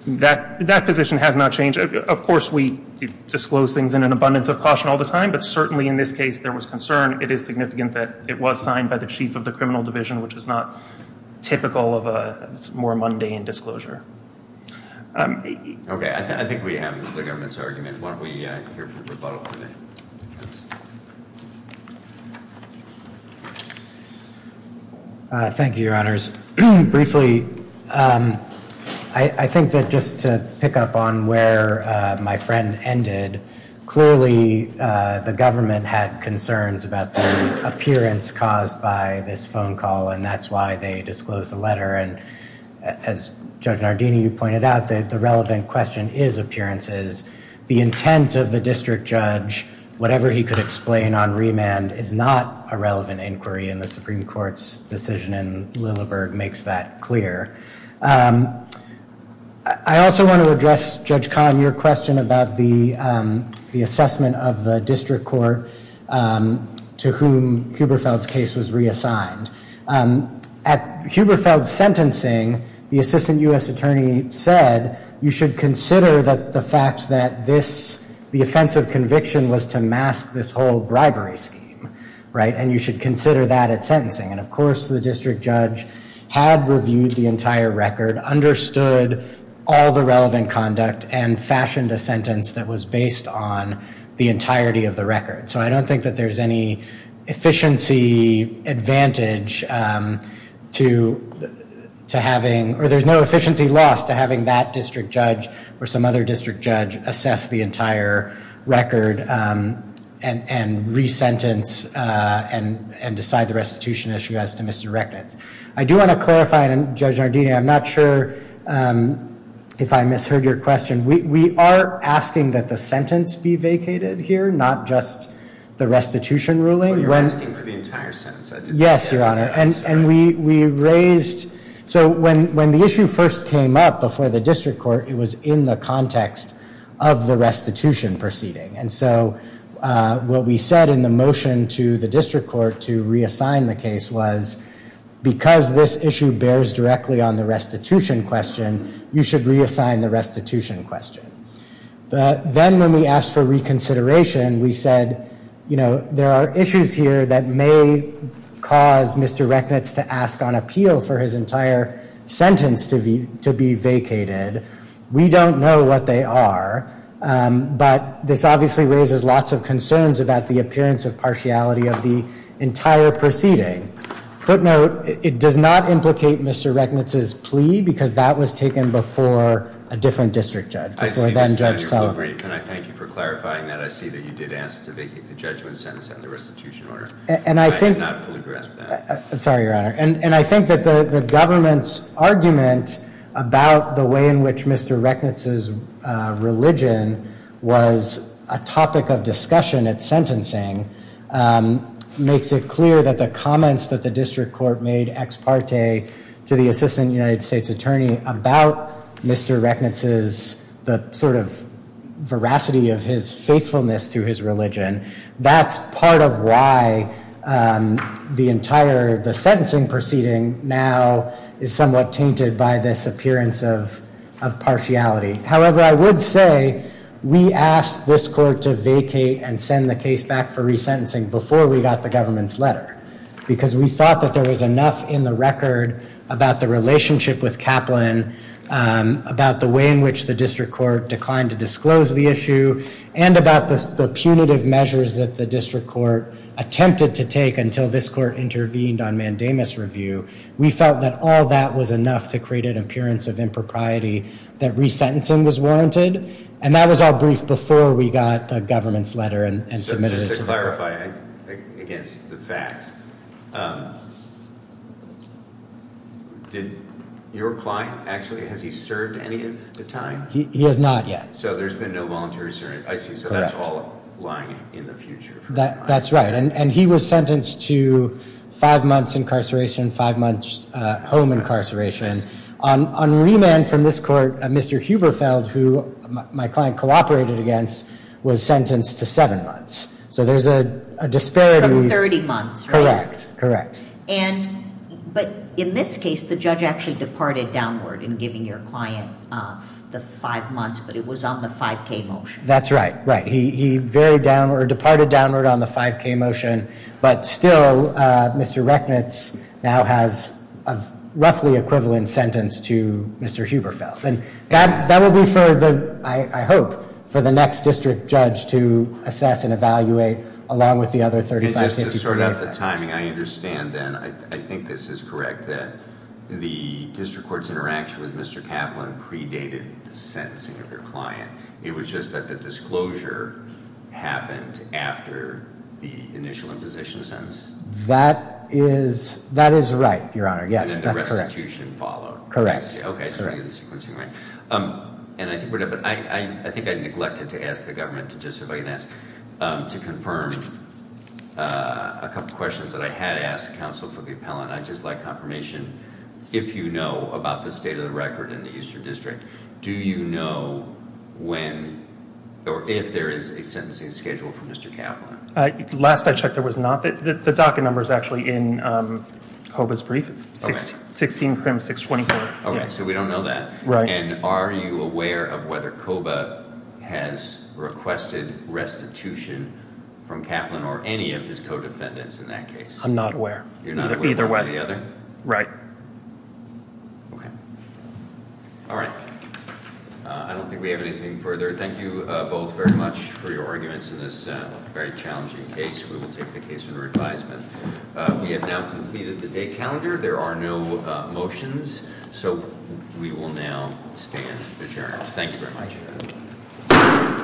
That position has not changed. Of course, we disclose things in an abundance of caution all the time, but certainly in this case there was concern. It is significant that it was signed by the chief of the criminal division, which is not typical of a more mundane disclosure. Okay, I think we have the government's argument. Why don't we hear from the rebuttal committee? Thank you, Your Honors. Briefly, I think that just to pick up on where my friend ended, clearly the government had concerns about the appearance caused by this phone call, and that's why they disclosed the letter. And as Judge Nardini, you pointed out, the relevant question is appearances. The intent of the district judge, whatever he could explain on remand, is not a relevant inquiry, and the Supreme Court's decision in Lilleberg makes that clear. I also want to address, Judge Kahn, your question about the assessment of the district court to whom Huberfeld's case was reassigned. At Huberfeld's sentencing, the assistant U.S. attorney said, you should consider that the fact that the offense of conviction was to mask this whole bribery scheme, and you should consider that at sentencing. And of course, the district judge had reviewed the entire record, understood all the relevant conduct, and fashioned a sentence that was based on the entirety of the record. So I don't think that there's any efficiency advantage to having, or there's no efficiency loss to having that district judge or some other district judge assess the entire record and re-sentence and decide the restitution issue as to misdirected. I do want to clarify, Judge Nardini, I'm not sure if I misheard your question. We are asking that the sentence be vacated here, not just the restitution ruling. You're asking for the entire sentence. Yes, Your Honor. And we raised, so when the issue first came up before the district court, it was in the context of the restitution proceeding. And so what we said in the motion to the district court to reassign the case was, because this issue bears directly on the restitution question, you should reassign the restitution question. Then when we asked for reconsideration, we said, you know, there are issues here that may cause Mr. Rechnitz to ask on appeal for his entire sentence to be vacated. We don't know what they are. But this obviously raises lots of concerns about the appearance of partiality of the entire proceeding. Footnote, it does not implicate Mr. Rechnitz's plea, because that was taken before a different district judge. Before then, Judge Sullivan. Can I thank you for clarifying that? I see that you did ask to vacate the judgment sentence and the restitution order. I did not fully grasp that. Sorry, Your Honor. And I think that the government's argument about the way in which Mr. Rechnitz's religion was a topic of discussion at sentencing makes it clear that the comments that the district court made ex parte to the assistant United States attorney about Mr. Rechnitz's, the sort of veracity of his faithfulness to his religion, that's part of why the entire the sentencing proceeding now is somewhat tainted by this appearance of partiality. However, I would say we asked this court to vacate and send the case back for resentencing before we got the government's letter, because we thought that there was enough in the record about the relationship with Kaplan, about the way in which the district court declined to disclose the issue, and about the punitive measures that the district court attempted to take until this court intervened on mandamus review. We felt that all that was enough to create an appearance of impropriety that resentencing was warranted, and that was all briefed before we got the government's letter and submitted it to the court. So just to clarify, against the facts, did your client actually, has he served any of the time? He has not yet. So there's been no voluntary service. I see. So that's all lying in the future. That's right, and he was sentenced to five months incarceration, five months home incarceration. On remand from this court, Mr. Huberfeld, who my client cooperated against, was sentenced to seven months. So there's a disparity. From 30 months, right? Correct, correct. And, but in this case, the judge actually departed downward in giving your client the five months, but it was on the 5K motion. That's right, right. He very downward, departed downward on the 5K motion. But still, Mr. Rechnitz now has a roughly equivalent sentence to Mr. Huberfeld. And that will be for the, I hope, for the next district judge to assess and evaluate along with the other 35, 50, 50. And just to sort out the timing, I understand then, I think this is correct, that the district court's interaction with Mr. Kaplan predated the sentencing of your client. It was just that the disclosure happened after the initial imposition sentence? That is, that is right, Your Honor. Yes, that's correct. And then the restitution followed. Correct, correct. Okay, I just want to get the sequencing right. And I think, I think I neglected to ask the government to just, if I can ask, to confirm a couple questions that I had asked counsel for the appellant. I'd just like confirmation, if you know about the state of the record in the Eastern District, do you know when or if there is a sentencing schedule for Mr. Kaplan? Last I checked, there was not. The DACA number is actually in Koba's brief. It's 16-624. All right, so we don't know that. Right. And are you aware of whether Koba has requested restitution from Kaplan or any of his co-defendants in that case? I'm not aware. You're not aware of one or the other? Right. Okay. All right. I don't think we have anything further. Thank you both very much for your arguments in this very challenging case. We will take the case under advisement. We have now completed the day calendar. There are no motions. So we will now stand adjourned. Thank you very much.